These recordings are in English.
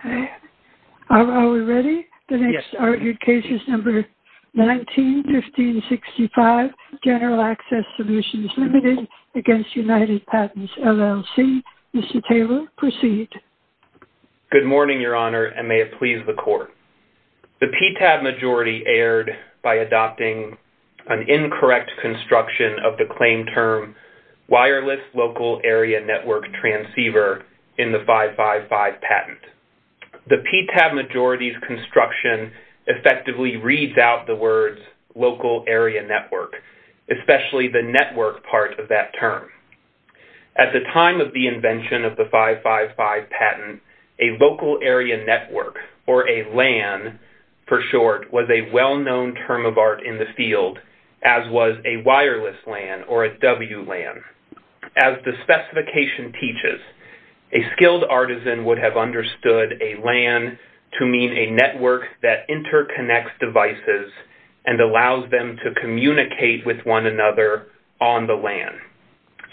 Okay. Are we ready? The next argued case is number 19-1565, General Access Solutions, Ltd. v. United Patents, LLC. Mr. Taylor, proceed. Good morning, Your Honor, and may it please the Court. The PTAB majority erred by adopting an incorrect construction of the claim term wireless local area network transceiver in the 555 patent. The PTAB majority's construction effectively reads out the words local area network, especially the network part of that term. At the time of the invention of the 555 patent, a local area network, or a LAN for short, was a well-known term of art in the field, as was a wireless LAN or a WLAN. As the specification teaches, a skilled artisan would have understood a LAN to mean a network that interconnects devices and allows them to communicate with one another on the LAN.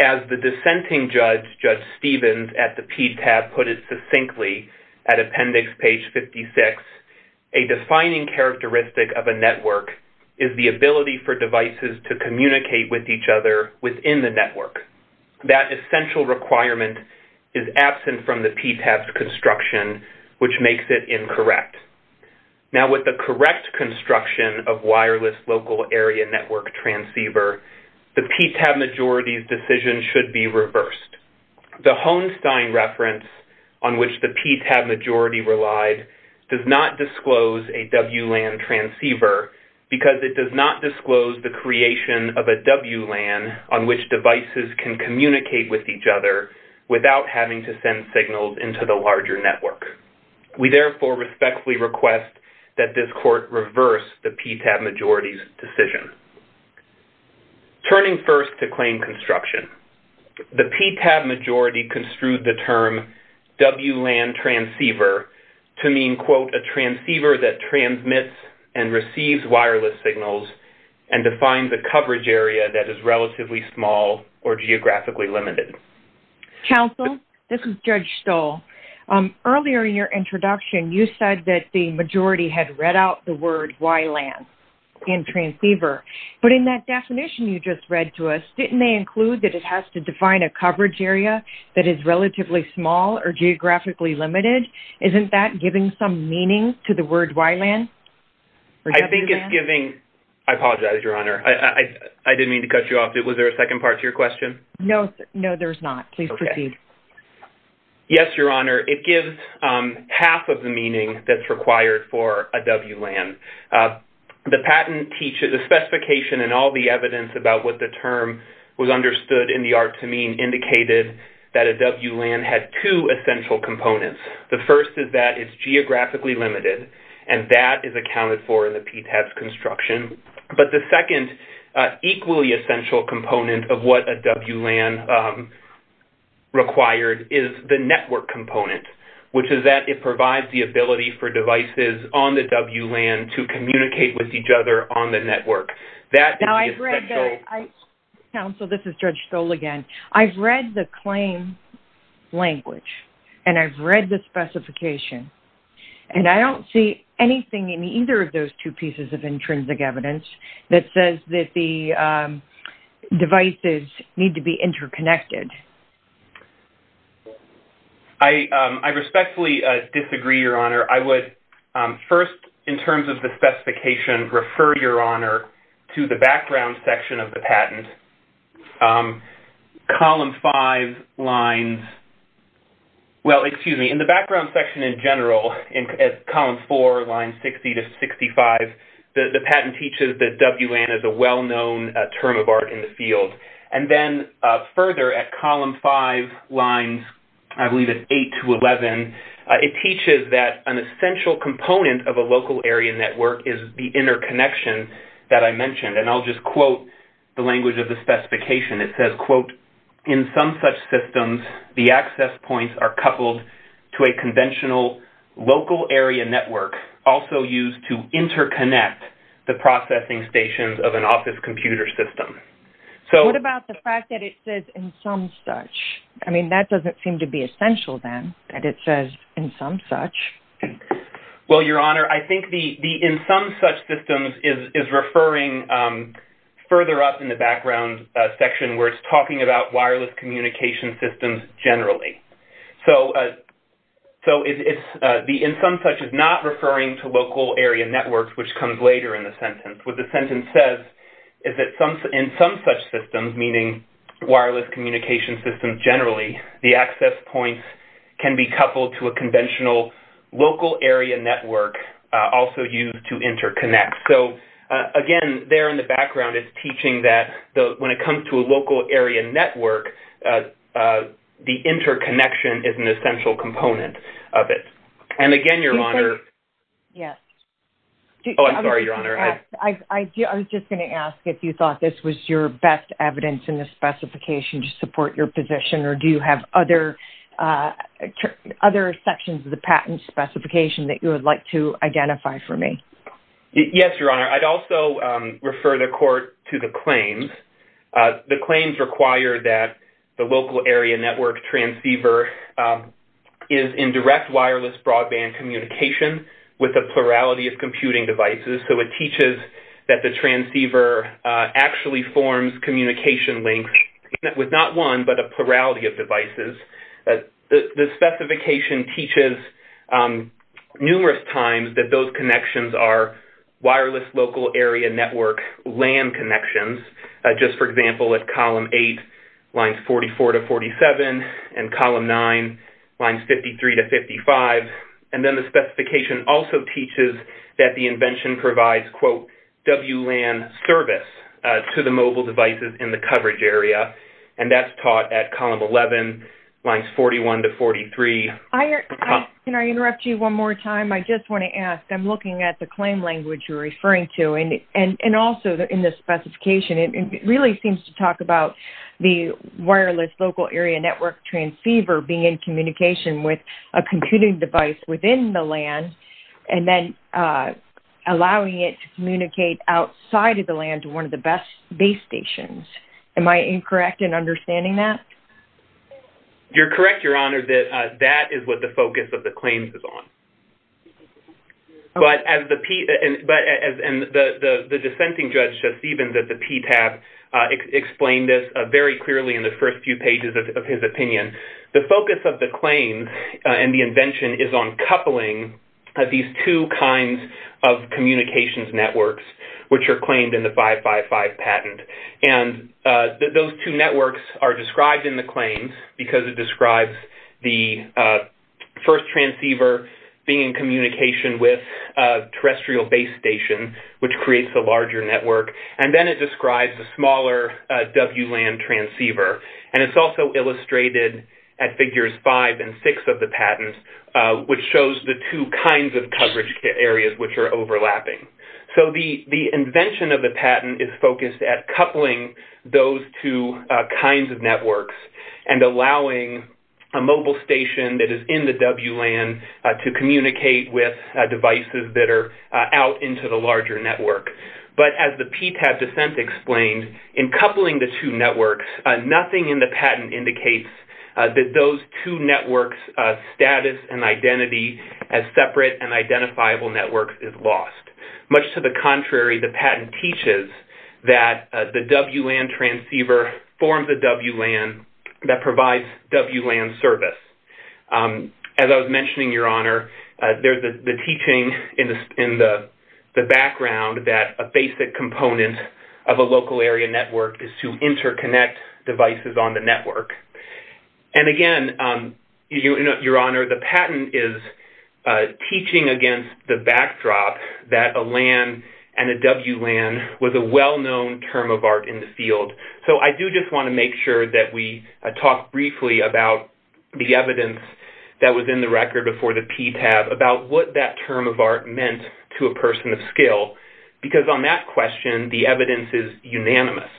As the dissenting judge, Judge Stevens, at the PTAB put it succinctly at Appendix Page 56, a defining characteristic of a network is the ability for devices to communicate with each other within the network. That essential requirement is absent from the PTAB's construction, which makes it incorrect. Now, with the correct construction of wireless local area network transceiver, the PTAB majority's decision should be reversed. The Hohenstein reference on which the PTAB majority relied does not disclose a WLAN transceiver because it does not disclose the creation of a WLAN on which devices can communicate with each other without having to send signals into the larger network. We therefore respectfully request that this court reverse the PTAB majority's decision. Turning first to claim construction, the PTAB majority construed the term WLAN transceiver to mean, quote, a transceiver that transmits and receives wireless signals and defines a coverage area that is relatively small or geographically limited. Counsel, this is Judge Stoll. Earlier in your introduction, you said that the majority had the word WLAN in transceiver, but in that definition you just read to us, didn't they include that it has to define a coverage area that is relatively small or geographically limited? Isn't that giving some meaning to the word WLAN? I think it's giving... I apologize, Your Honor. I didn't mean to cut you off. Was there a second part to your question? No. No, there's not. Please proceed. Yes, Your Honor. It gives half of the WLAN. The patent teaches... The specification and all the evidence about what the term was understood in the art to mean indicated that a WLAN had two essential components. The first is that it's geographically limited, and that is accounted for in the PTAB's construction. But the second equally essential component of what a WLAN required is the network component, which is that it provides the ability for devices on the WLAN to communicate with each other on the network. That is the essential... Counsel, this is Judge Stoll again. I've read the claim language, and I've read the specification, and I don't see anything in either of those two pieces of intrinsic evidence that says that the devices need to be interconnected. I respectfully disagree, Your Honor. I would first, in terms of the specification, refer, Your Honor, to the background section of the patent. Column 5 lines... Well, excuse me. In the background section in general, in column 4, line 60 to 65, the patent teaches that WLAN is a WLAN. Column 5 lines, I believe it's 8 to 11, it teaches that an essential component of a local area network is the interconnection that I mentioned. And I'll just quote the language of the specification. It says, quote, in some such systems, the access points are coupled to a conventional local area network also used to interconnect the processing stations of an I mean, that doesn't seem to be essential then, that it says in some such. Well, Your Honor, I think the in some such systems is referring further up in the background section where it's talking about wireless communication systems generally. So, the in some such is not referring to local area networks, which comes later in the sentence. What the sentence says is that in some such systems, meaning wireless communication systems generally, the access points can be coupled to a conventional local area network also used to interconnect. So, again, there in the background, it's teaching that when it comes to a local area network, the interconnection is an essential component of it. And again, Your Honor... Yes. Oh, I'm sorry, Your Honor. I was just going to ask if you thought this was your best evidence in the specification to support your position, or do you have other sections of the patent specification that you would like to identify for me? Yes, Your Honor. I'd also refer the court to the claims. The claims require that the local area network transceiver is in direct wireless broadband communication with a plurality of computing devices. So, it teaches that the transceiver actually forms communication links with not one, but a plurality of devices. The specification teaches numerous times that those connections are wireless local area network LAN connections. Just for example, at column eight, lines 44 to 47, and column nine, lines 53 to 55. And then the specification also teaches that the invention provides, quote, WLAN service to the mobile devices in the coverage area. And that's taught at column 11, lines 41 to 43. Can I interrupt you one more time? I just want to ask, I'm looking at the claim language you're referring to. And also, in the specification, it really seems to talk about the wireless local area network transceiver being in communication with a computing device within the LAN, and then allowing it to communicate outside of the LAN to one of the base stations. Am I incorrect in understanding that? You're correct, Your Honor, that that is what the focus of the claims is on. But as the dissenting judge, Stephen, at the PTAB, explained this very clearly in the first few pages of his opinion, the focus of the claim and the invention is on coupling these two kinds of communications networks, which are claimed in the 555 patent. And those two networks are in communication with a terrestrial base station, which creates a larger network. And then it describes a smaller WLAN transceiver. And it's also illustrated at figures five and six of the patent, which shows the two kinds of coverage areas which are overlapping. So, the invention of the patent is focused at coupling those two kinds of networks, and allowing a mobile station that is in the WLAN to communicate with devices that are out into the larger network. But as the PTAB dissent explained, in coupling the two networks, nothing in the patent indicates that those two networks' status and identity as separate and identifiable networks is lost. Much to the contrary, the patent teaches that the WLAN transceiver forms a WLAN that provides WLAN service. As I was mentioning, Your Honor, there's the teaching in the background that a basic component of a local area network is to interconnect devices on the network. And again, Your Honor, the patent is teaching against the backdrop that a LAN and a WLAN was a well-known term of art in the field. So, I do just want to make sure that we talk briefly about the evidence that was in the record before the PTAB about what that term of art meant to a person of skill. Because on that question, the evidence is unanimous.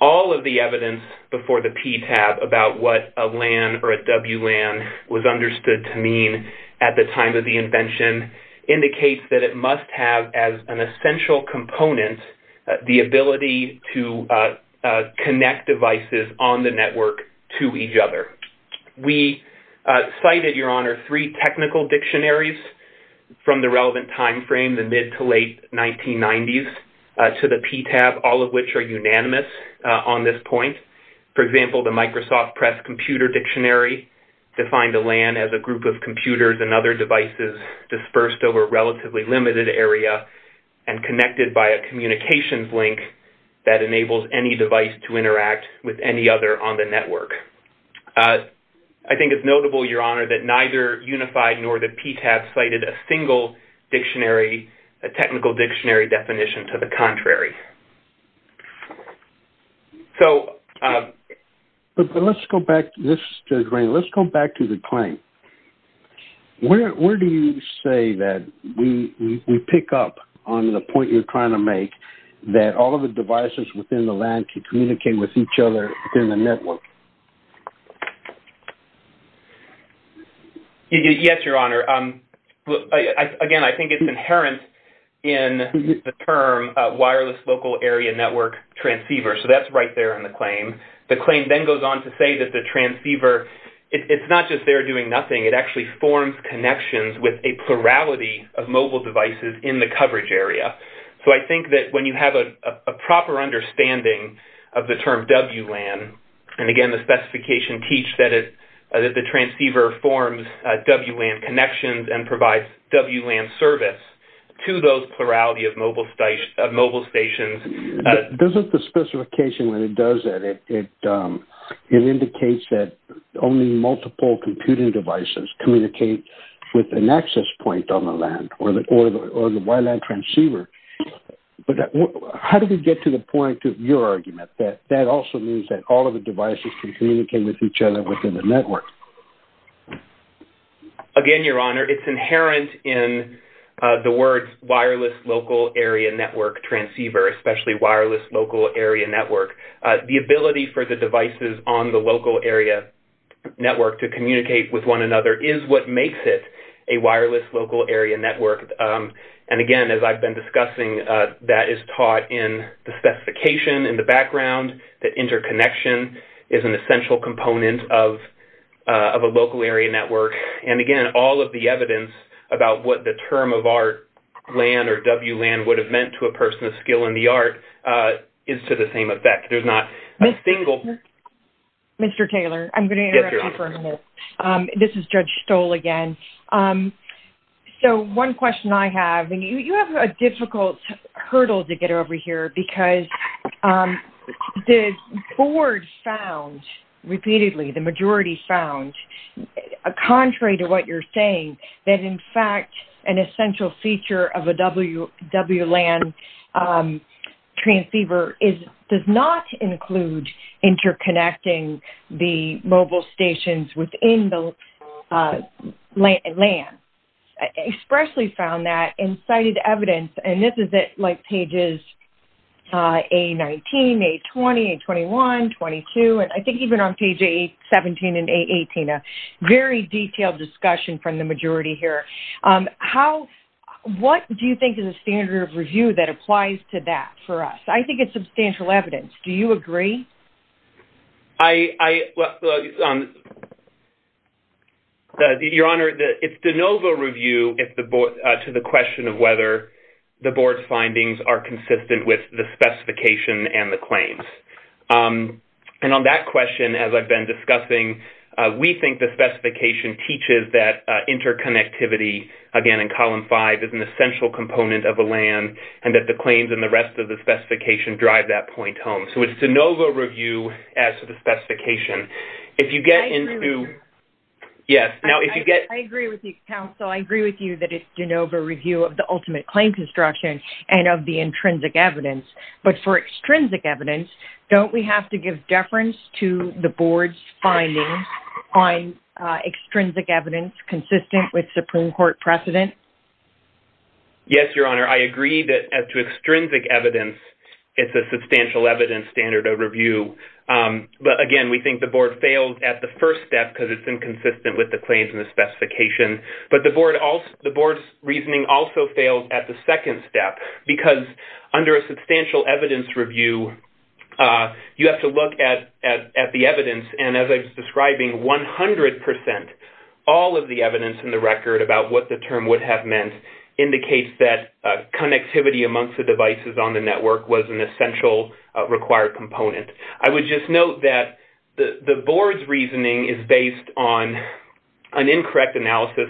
All of the evidence before the PTAB about what a LAN or a WLAN was understood to mean at the time of the invention indicates that it must have as an essential component the ability to connect devices on the network to each other. We cited, Your Honor, three technical dictionaries from the relevant timeframe, the mid to late 1990s, to the PTAB, all of which are unanimous on this point. For example, the Microsoft Press Computer Dictionary defined a LAN as a group of computers and other devices dispersed over a relatively limited area and connected by a communications link that enables any device to interact with any other on the network. I think it's notable, Your Honor, that neither Unified nor the PTAB cited a single dictionary, a technical dictionary definition to the contrary. But let's go back to the claim. Where do you say that we pick up on the point you're trying to make that all of the devices within the LAN can communicate with each other within the network? Yes, Your Honor. Again, I think it's inherent in the term wireless local area network transceiver. So that's right there in the claim. The claim then goes on to say that the transceiver, it's not just there doing nothing, it actually forms connections with a plurality of mobile devices in the coverage area. So I think that when you have a proper understanding of the term WLAN, and again, the specification teach that the transceiver forms WLAN connections and provides WLAN service to those plurality of mobile stations. Doesn't the specification when it does that, it indicates that only multiple computing devices communicate with an access point on the LAN or the WLAN transceiver. But how do we get to the point of your argument that that also means that all devices can communicate with each other within the network? Again, Your Honor, it's inherent in the words wireless local area network transceiver, especially wireless local area network. The ability for the devices on the local area network to communicate with one another is what makes it a wireless local area network. And again, as I've been discussing, that is taught in the is an essential component of a local area network. And again, all of the evidence about what the term of our LAN or WLAN would have meant to a person of skill in the art is to the same effect. There's not a single... Mr. Taylor, I'm going to interrupt you for a minute. This is Judge Stoll again. So one question I have, and you have a difficult hurdle to get over here because the board found repeatedly, the majority found, contrary to what you're saying, that in fact, an essential feature of a WLAN transceiver does not include interconnecting the mobile stations within the LAN. I expressly found that in cited evidence, and this is like pages A19, A20, A21, 22, and I think even on page A17 and A18, a very detailed discussion from the majority here. What do you think is a standard of review that applies to that for us? I think it's a standard of review. Your Honor, it's de novo review to the question of whether the board's findings are consistent with the specification and the claims. And on that question, as I've been discussing, we think the specification teaches that interconnectivity, again, in column five is an essential component of a LAN and that the claims and the rest of the specification drive that point home. So it's de novo review as to the Yes. I agree with you, counsel. I agree with you that it's de novo review of the ultimate claim construction and of the intrinsic evidence. But for extrinsic evidence, don't we have to give deference to the board's findings on extrinsic evidence consistent with Supreme Court precedent? Yes, Your Honor. I agree that as to extrinsic evidence, it's a substantial evidence standard of review. But again, we think the board failed at the first step because it's inconsistent with the claims and the specification. But the board's reasoning also failed at the second step because under a substantial evidence review, you have to look at the evidence. And as I was describing, 100 percent, all of the evidence in the record about what the term would have meant indicates that connectivity amongst the devices on the network was an essential required component. I would just note that the board's reasoning is based on an incorrect analysis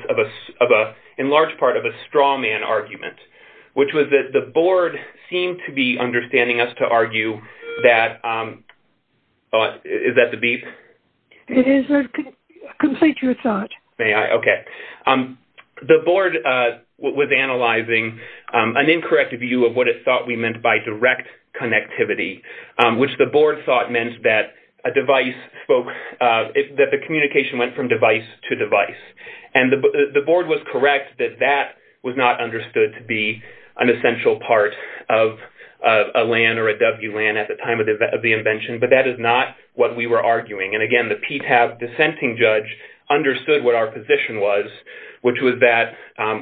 in large part of a straw man argument, which was that the board seemed to be understanding us to argue that... Is that the beep? It is. Complete your thought. May I? Okay. The board was analyzing an incorrect view of what it thought we meant by direct connectivity, which the board thought meant that a device spoke... That the communication went from device to device. And the board was correct that that was not understood to be an essential part of a LAN or a WLAN at the time of the invention, but that is not what we were arguing. And again, the PTAB dissenting judge understood what our position was, which was that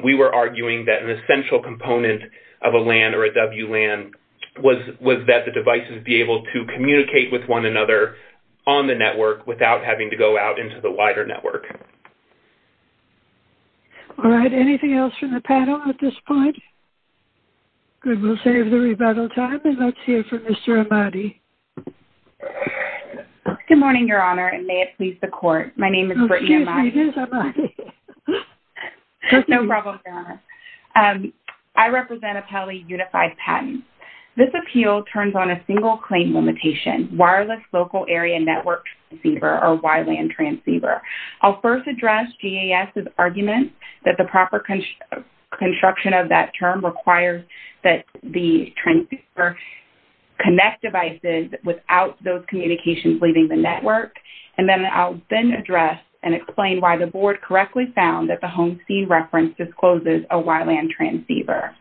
we were arguing that an essential component of a LAN or a WLAN was that the devices be able to communicate with one another on the network without having to go out into the wider network. All right. Anything else from the panel at this point? Good. We'll save the rebuttal time and let's hear from Mr. Amadi. Good morning, Your Honor, and may it please the court. My name is Brittany Amadi. My name is Amadi. No problem, Your Honor. I represent Apelli Unified Patents. This appeal turns on a single claim limitation, wireless local area network transceiver or WLAN transceiver. I'll first address GAS's argument that the proper construction of that term requires that the transceiver connect devices without those communications leaving the network. And then I'll then address and explain why the board correctly found that the home scene reference discloses a WLAN transceiver.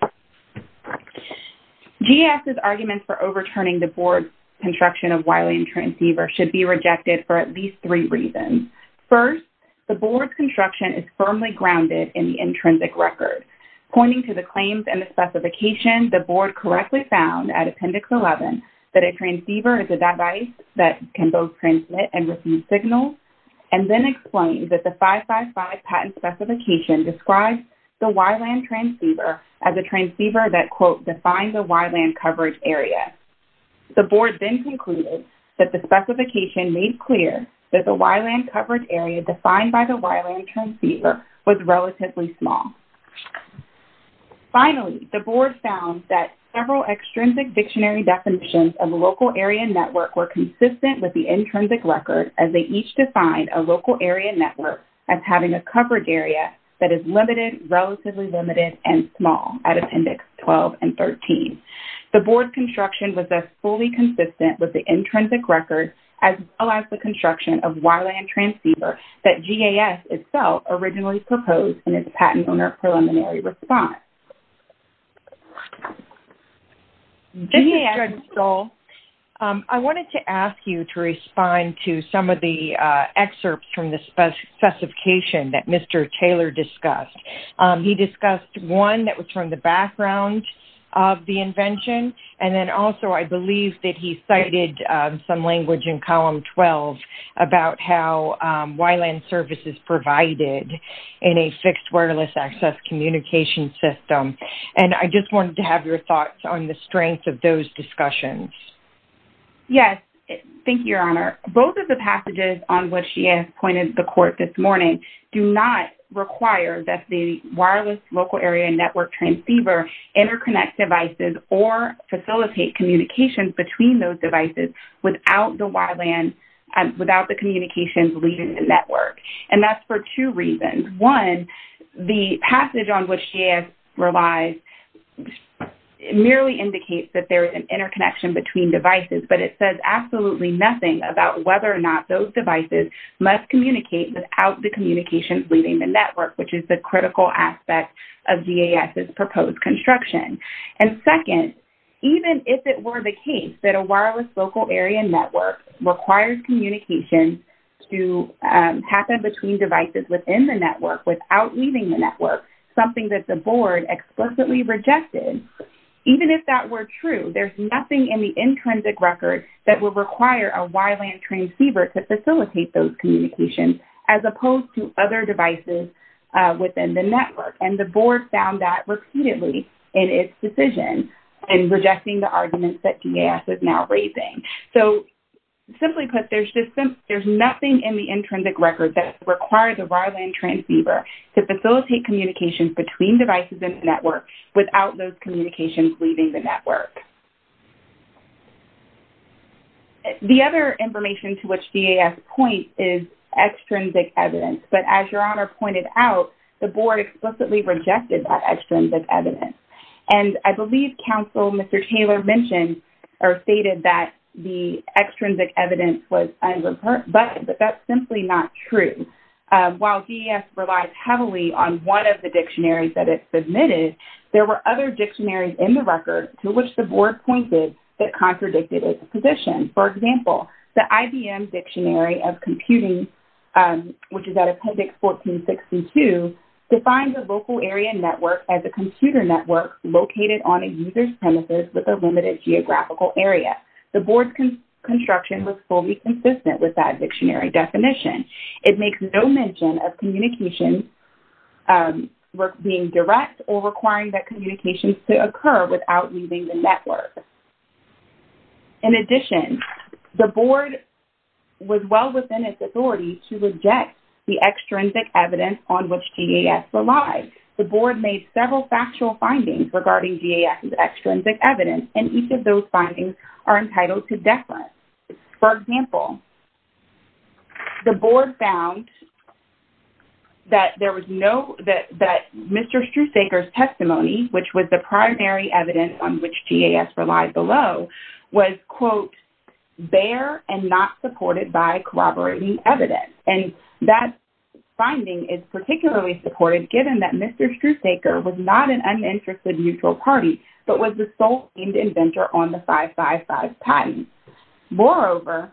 GAS's arguments for overturning the board construction of WLAN transceiver should be rejected for at least three reasons. First, the board's construction is firmly grounded in the intrinsic record. Pointing to the claims and the specification, the board correctly found at Appendix 11 that a transceiver is a device that can both transmit and receive signals and then explained that the 555 patent specification describes the WLAN transceiver as a transceiver that, quote, defined the WLAN coverage area. The board then concluded that the specification made clear that the WLAN coverage area defined by the WLAN transceiver was relatively small. Finally, the board found that several extrinsic dictionary definitions of a local area network were consistent with the intrinsic record as they each defined a local area network as having a coverage area that is limited, relatively limited, and small at Appendix 12 and 13. The board construction was as fully consistent with the intrinsic record as well as the construction of WLAN transceiver that GAS itself originally proposed in its Patent Owner Preliminary Response. This is Judge Stoll. I wanted to ask you to respond to some of the excerpts from the specification that Mr. Taylor discussed. He discussed one that was from the background of the invention, and then also I believe that he cited some language in Column 12 about how WLAN services provided in a fixed wireless access communication system. And I just wanted to have your thoughts on the strength of those discussions. Yes. Thank you, Your Honor. Both of the passages on which GAS pointed the court this morning do not require that the wireless local area network transceiver interconnect devices or facilitate communications between those devices without the communications leading the network. And that's for two reasons. One, the passage on which GAS relies merely indicates that there is an interconnection between devices, but it says absolutely nothing about whether or not those devices must communicate without the communications leading the network, which is the critical aspect of GAS's proposed construction. And second, even if it were the case that a wireless local area network requires communication to happen between devices within the network without leaving the network, something that the board explicitly rejected, even if that were true, there's nothing in the intrinsic record that would require a WLAN transceiver to facilitate those communications as opposed to other devices within the network. And the board found that repeatedly in its decision in rejecting the arguments that GAS is now raising. So, simply put, there's nothing in the intrinsic record that requires a WLAN transceiver to facilitate communications between devices in the network without those communications leaving the network. The other information to which GAS points is extrinsic evidence. But as Your Honor pointed out, the board explicitly rejected that extrinsic evidence. And I believe Counsel Mr. Taylor stated that the extrinsic evidence was unreported, but that's simply not true. While GAS relies heavily on one of the dictionaries that it submitted, there were other dictionaries in the record to which the board pointed that contradicted its position. For example, the IBM Dictionary of Computing, which is at Appendix 1462, defines a local area network as a computer network located on a user's premises with a limited geographical area. The board's construction was fully consistent with that dictionary definition. It makes no mention of communications being direct or requiring that communications to occur without leaving the network. In addition, the board was well within its authority to reject the extrinsic evidence on which GAS relies. The board made several factual findings regarding GAS's extrinsic evidence, and each of those findings are entitled to deference. For example, the board found that there was no- that Mr. Strusaker's testimony, which was the primary evidence on which GAS relies below, was, quote, bare and not supported by corroborating evidence. And that finding is particularly supported, given that Mr. Strusaker was not an uninterested mutual party, but was the sole aimed inventor on the 555 patent. Moreover,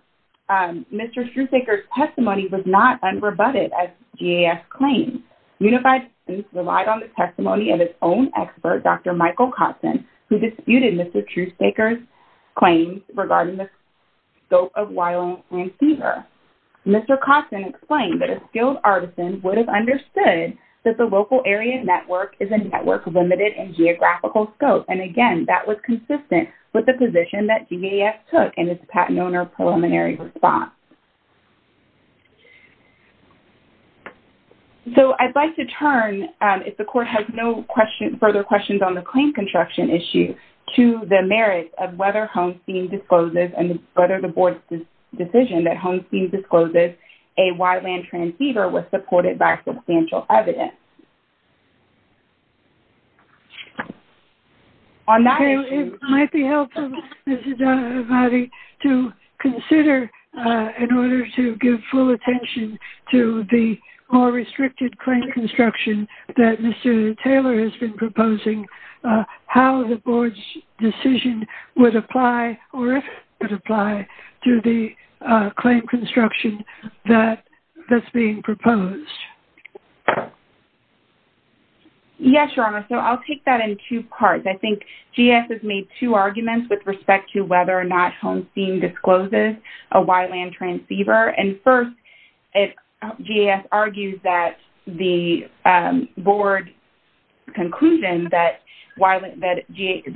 Mr. Strusaker's testimony was not unrebutted as GAS claims. Unified Statements relied on the testimony of its own expert, Dr. Michael Kotson, who disputed Mr. Strusaker's claims regarding the scope of wildland fever. Mr. Kotson explained that a skilled artisan would have understood that the local area network is a network limited in geographical scope. And again, that was consistent with the position that GAS took in its patent owner preliminary response. So, I'd like to turn, if the court has no questions- further questions on the claim construction issue, to the merits of whether Holmsteen discloses, and whether the board's decision that Holmsteen discloses a wildland trans-fever was supported by substantial evidence. On that issue- It might be helpful, Mrs. Donahue-Ivatti, to consider, in order to full attention to the more restricted claim construction that Mr. Taylor has been proposing, how the board's decision would apply, or if it would apply, to the claim construction that's being proposed. Yes, Your Honor. So, I'll take that in two parts. I think GAS has made two arguments with respect to whether or not Holmsteen discloses a wildland trans-fever. And first, GAS argues that the board's conclusion that Holmsteen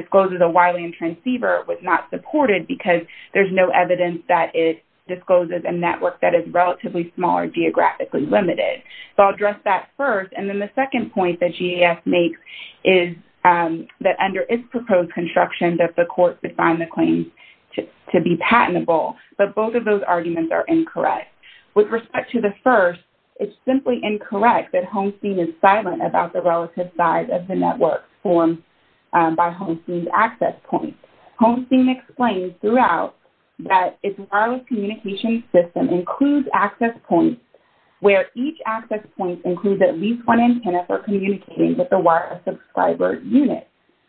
discloses a wildland trans-fever was not supported because there's no evidence that it discloses a network that is relatively small or geographically limited. So, I'll address that first. And then the second point that GAS makes is that under its proposed construction, that the but both of those arguments are incorrect. With respect to the first, it's simply incorrect that Holmsteen is silent about the relative size of the network formed by Holmsteen's access points. Holmsteen explains throughout that its wireless communication system includes access points where each access point includes at least one antenna for communicating with the wire subscriber unit.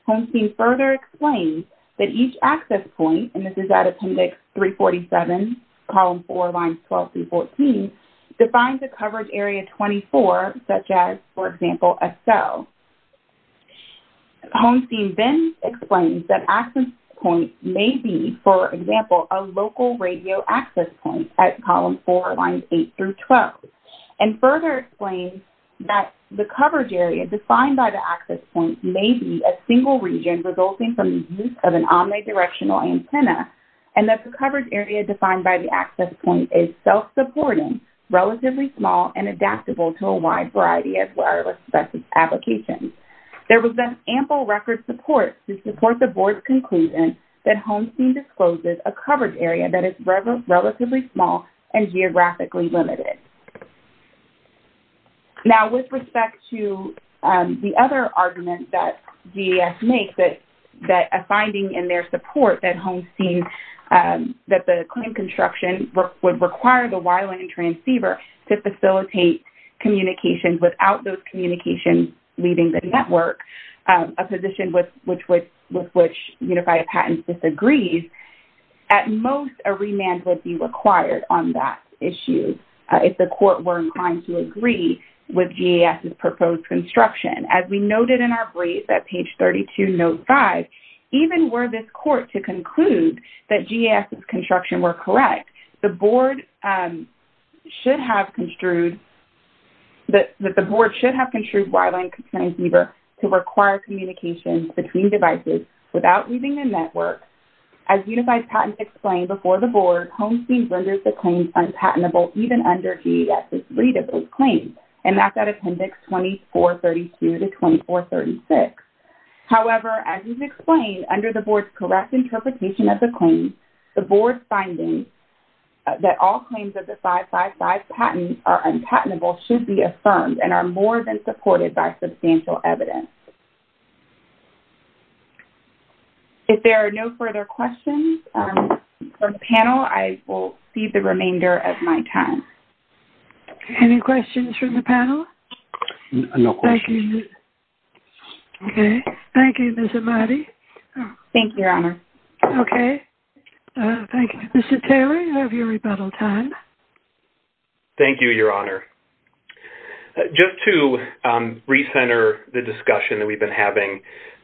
Holmsteen further explains that each access point, and this is at Appendix 347, Column 4, Lines 12 through 14, defines a coverage area 24, such as, for example, a cell. Holmsteen then explains that access point may be, for example, a local radio access point at that the coverage area defined by the access point may be a single region resulting from the use of an omni-directional antenna, and that the coverage area defined by the access point is self-supporting, relatively small, and adaptable to a wide variety of wireless applications. There was ample record support to support the board's conclusion that Holmsteen discloses a coverage area that is relatively small and geographically limited. Now, with respect to the other argument that DAS makes, that a finding in their support that Holmsteen, that the claim construction would require the wireline transceiver to facilitate communication without those communications leaving the network, a position with which Unified Patents disagrees, at most, a remand would be required on that issue. If the court were to agree with DAS's proposed construction, as we noted in our brief at page 32, note 5, even were this court to conclude that DAS's construction were correct, the board should have construed that the board should have construed wireline transceiver to require communication between devices without leaving the network. As Unified Patents explained before the and that's at appendix 2432 to 2436. However, as he's explained, under the board's correct interpretation of the claim, the board's findings that all claims of the 555 patent are unpatentable should be affirmed and are more than supported by substantial evidence. If there are no further questions from the panel, I will cede the remainder of my time. Okay. Any questions from the panel? No questions. Thank you. Okay. Thank you, Ms. Ahmadi. Thank you, Your Honor. Okay. Thank you. Mr. Taylor, you have your rebuttal time. Thank you, Your Honor. Just to recenter the discussion that we've been having,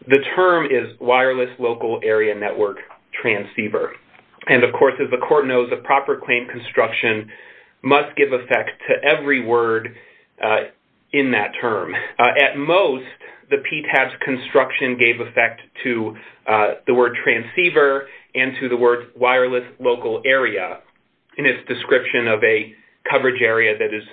the term is wireless local area network transceiver. And of course, as the court knows, a proper claim construction must give effect to every word in that term. At most, the PTAB's construction gave effect to the word transceiver and to the word wireless local area in its description of a coverage area that is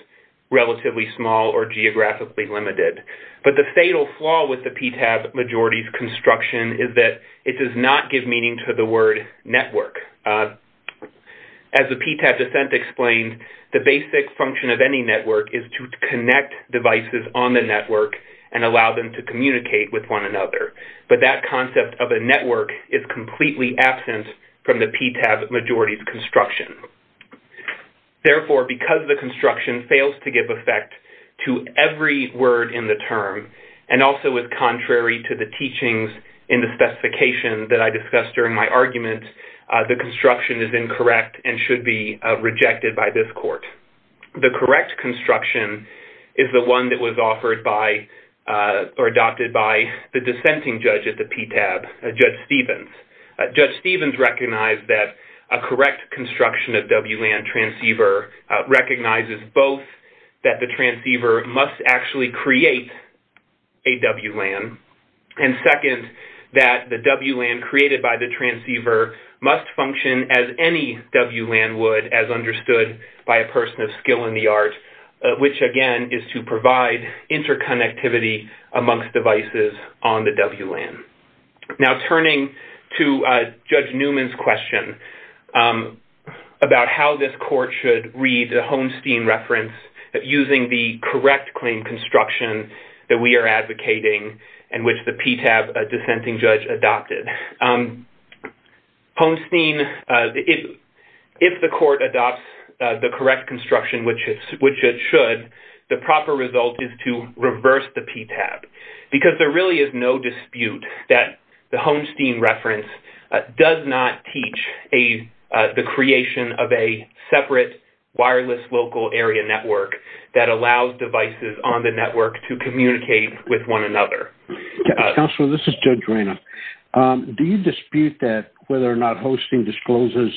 relatively small or geographically limited. But the fatal flaw with the PTAB majority's construction is that it does not give meaning to the word network. As the PTAB dissent explained, the basic function of any network is to connect devices on the network and allow them to communicate with one another. But that concept of a network is completely absent from the PTAB majority's construction. Therefore, because the construction fails to give effect to every word in the term and also is contrary to the teachings in the PTAB, the construction should be rejected by this court. The correct construction is the one that was offered by or adopted by the dissenting judge at the PTAB, Judge Stevens. Judge Stevens recognized that a correct construction of WLAN transceiver recognizes both that the transceiver must actually create a WLAN and second, that the WLAN created by the transceiver must function as any WLAN would as understood by a person of skill in the art, which again is to provide interconnectivity amongst devices on the WLAN. Now turning to Judge Newman's question about how this court should read the Holmsteen reference using the correct claim construction that we are advocating and which the PTAB dissenting judge adopted. Holmsteen, if the court adopts the correct construction, which it should, the proper result is to reverse the PTAB because there really is no dispute that the Holmsteen reference does not teach the creation of a separate wireless local area network that allows devices on the network to communicate with one another. Counselor, this is Judge Reynolds. Do you dispute that whether or not Holmsteen discloses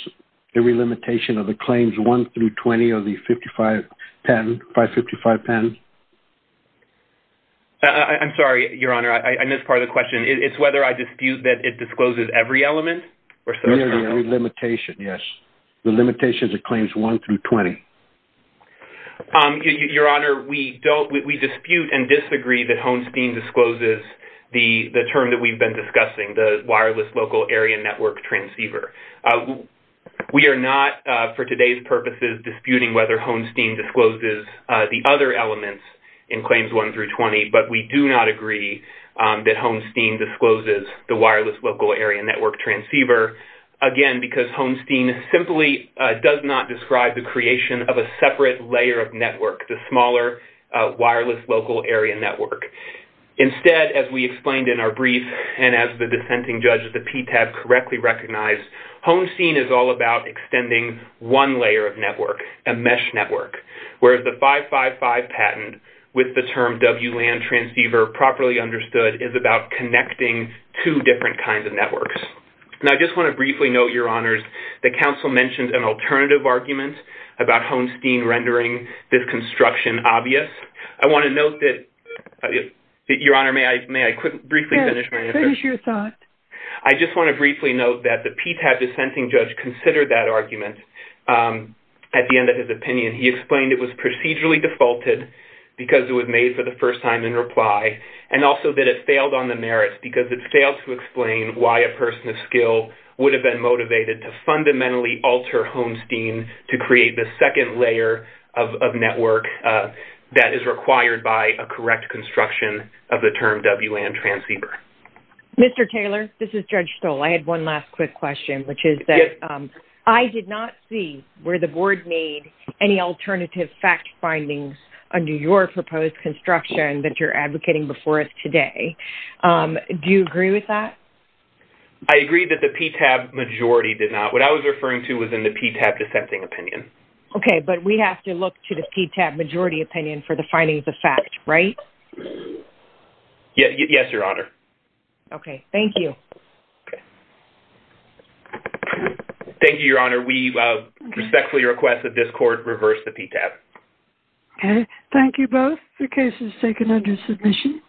every limitation of the claims 1 through 20 of the 555 patent? I'm sorry, Your Honor, I missed part of the question. It's whether I dispute that it discloses every element? Nearly every limitation, yes. The limitations of claims 1 through 20. Your Honor, we dispute and disagree that Holmsteen discloses the term that we've been discussing, the wireless local area network transceiver. We are not, for today's purposes, disputing whether Holmsteen discloses the other elements in claims 1 through 20, but we do not agree that Holmsteen discloses the wireless local area network transceiver, again, because Holmsteen simply does not describe the creation of a separate layer of network, the smaller wireless local area network. Instead, as we explained in our brief, and as the dissenting judge at the PTAB correctly recognized, Holmsteen is all about extending one layer of network, a mesh network, whereas the 555 patent, with the term WLAN transceiver properly understood, is about connecting two different kinds of networks. Now, I just want to briefly note, the counsel mentioned an alternative argument about Holmsteen rendering this construction obvious. I want to note that, Your Honor, may I briefly finish my answer? Yes, finish your thought. I just want to briefly note that the PTAB dissenting judge considered that argument at the end of his opinion. He explained it was procedurally defaulted because it was made for the first time in reply, and also that it failed on the merits because it failed to explain why a person of skill would have been motivated to fundamentally alter Holmsteen to create the second layer of network that is required by a correct construction of the term WLAN transceiver. Mr. Taylor, this is Judge Stoll. I had one last quick question, which is that I did not see where the board made any alternative fact findings under your proposed construction that you're advocating before us today. Do you agree with that? I agree that the PTAB majority did not. What I was referring to was in the PTAB dissenting opinion. Okay, but we have to look to the PTAB majority opinion for the findings of fact, right? Yes, Your Honor. Okay, thank you. Thank you, Your Honor. We respectfully request that this court reverse the PTAB. Okay, thank you both. The case is taken under submission.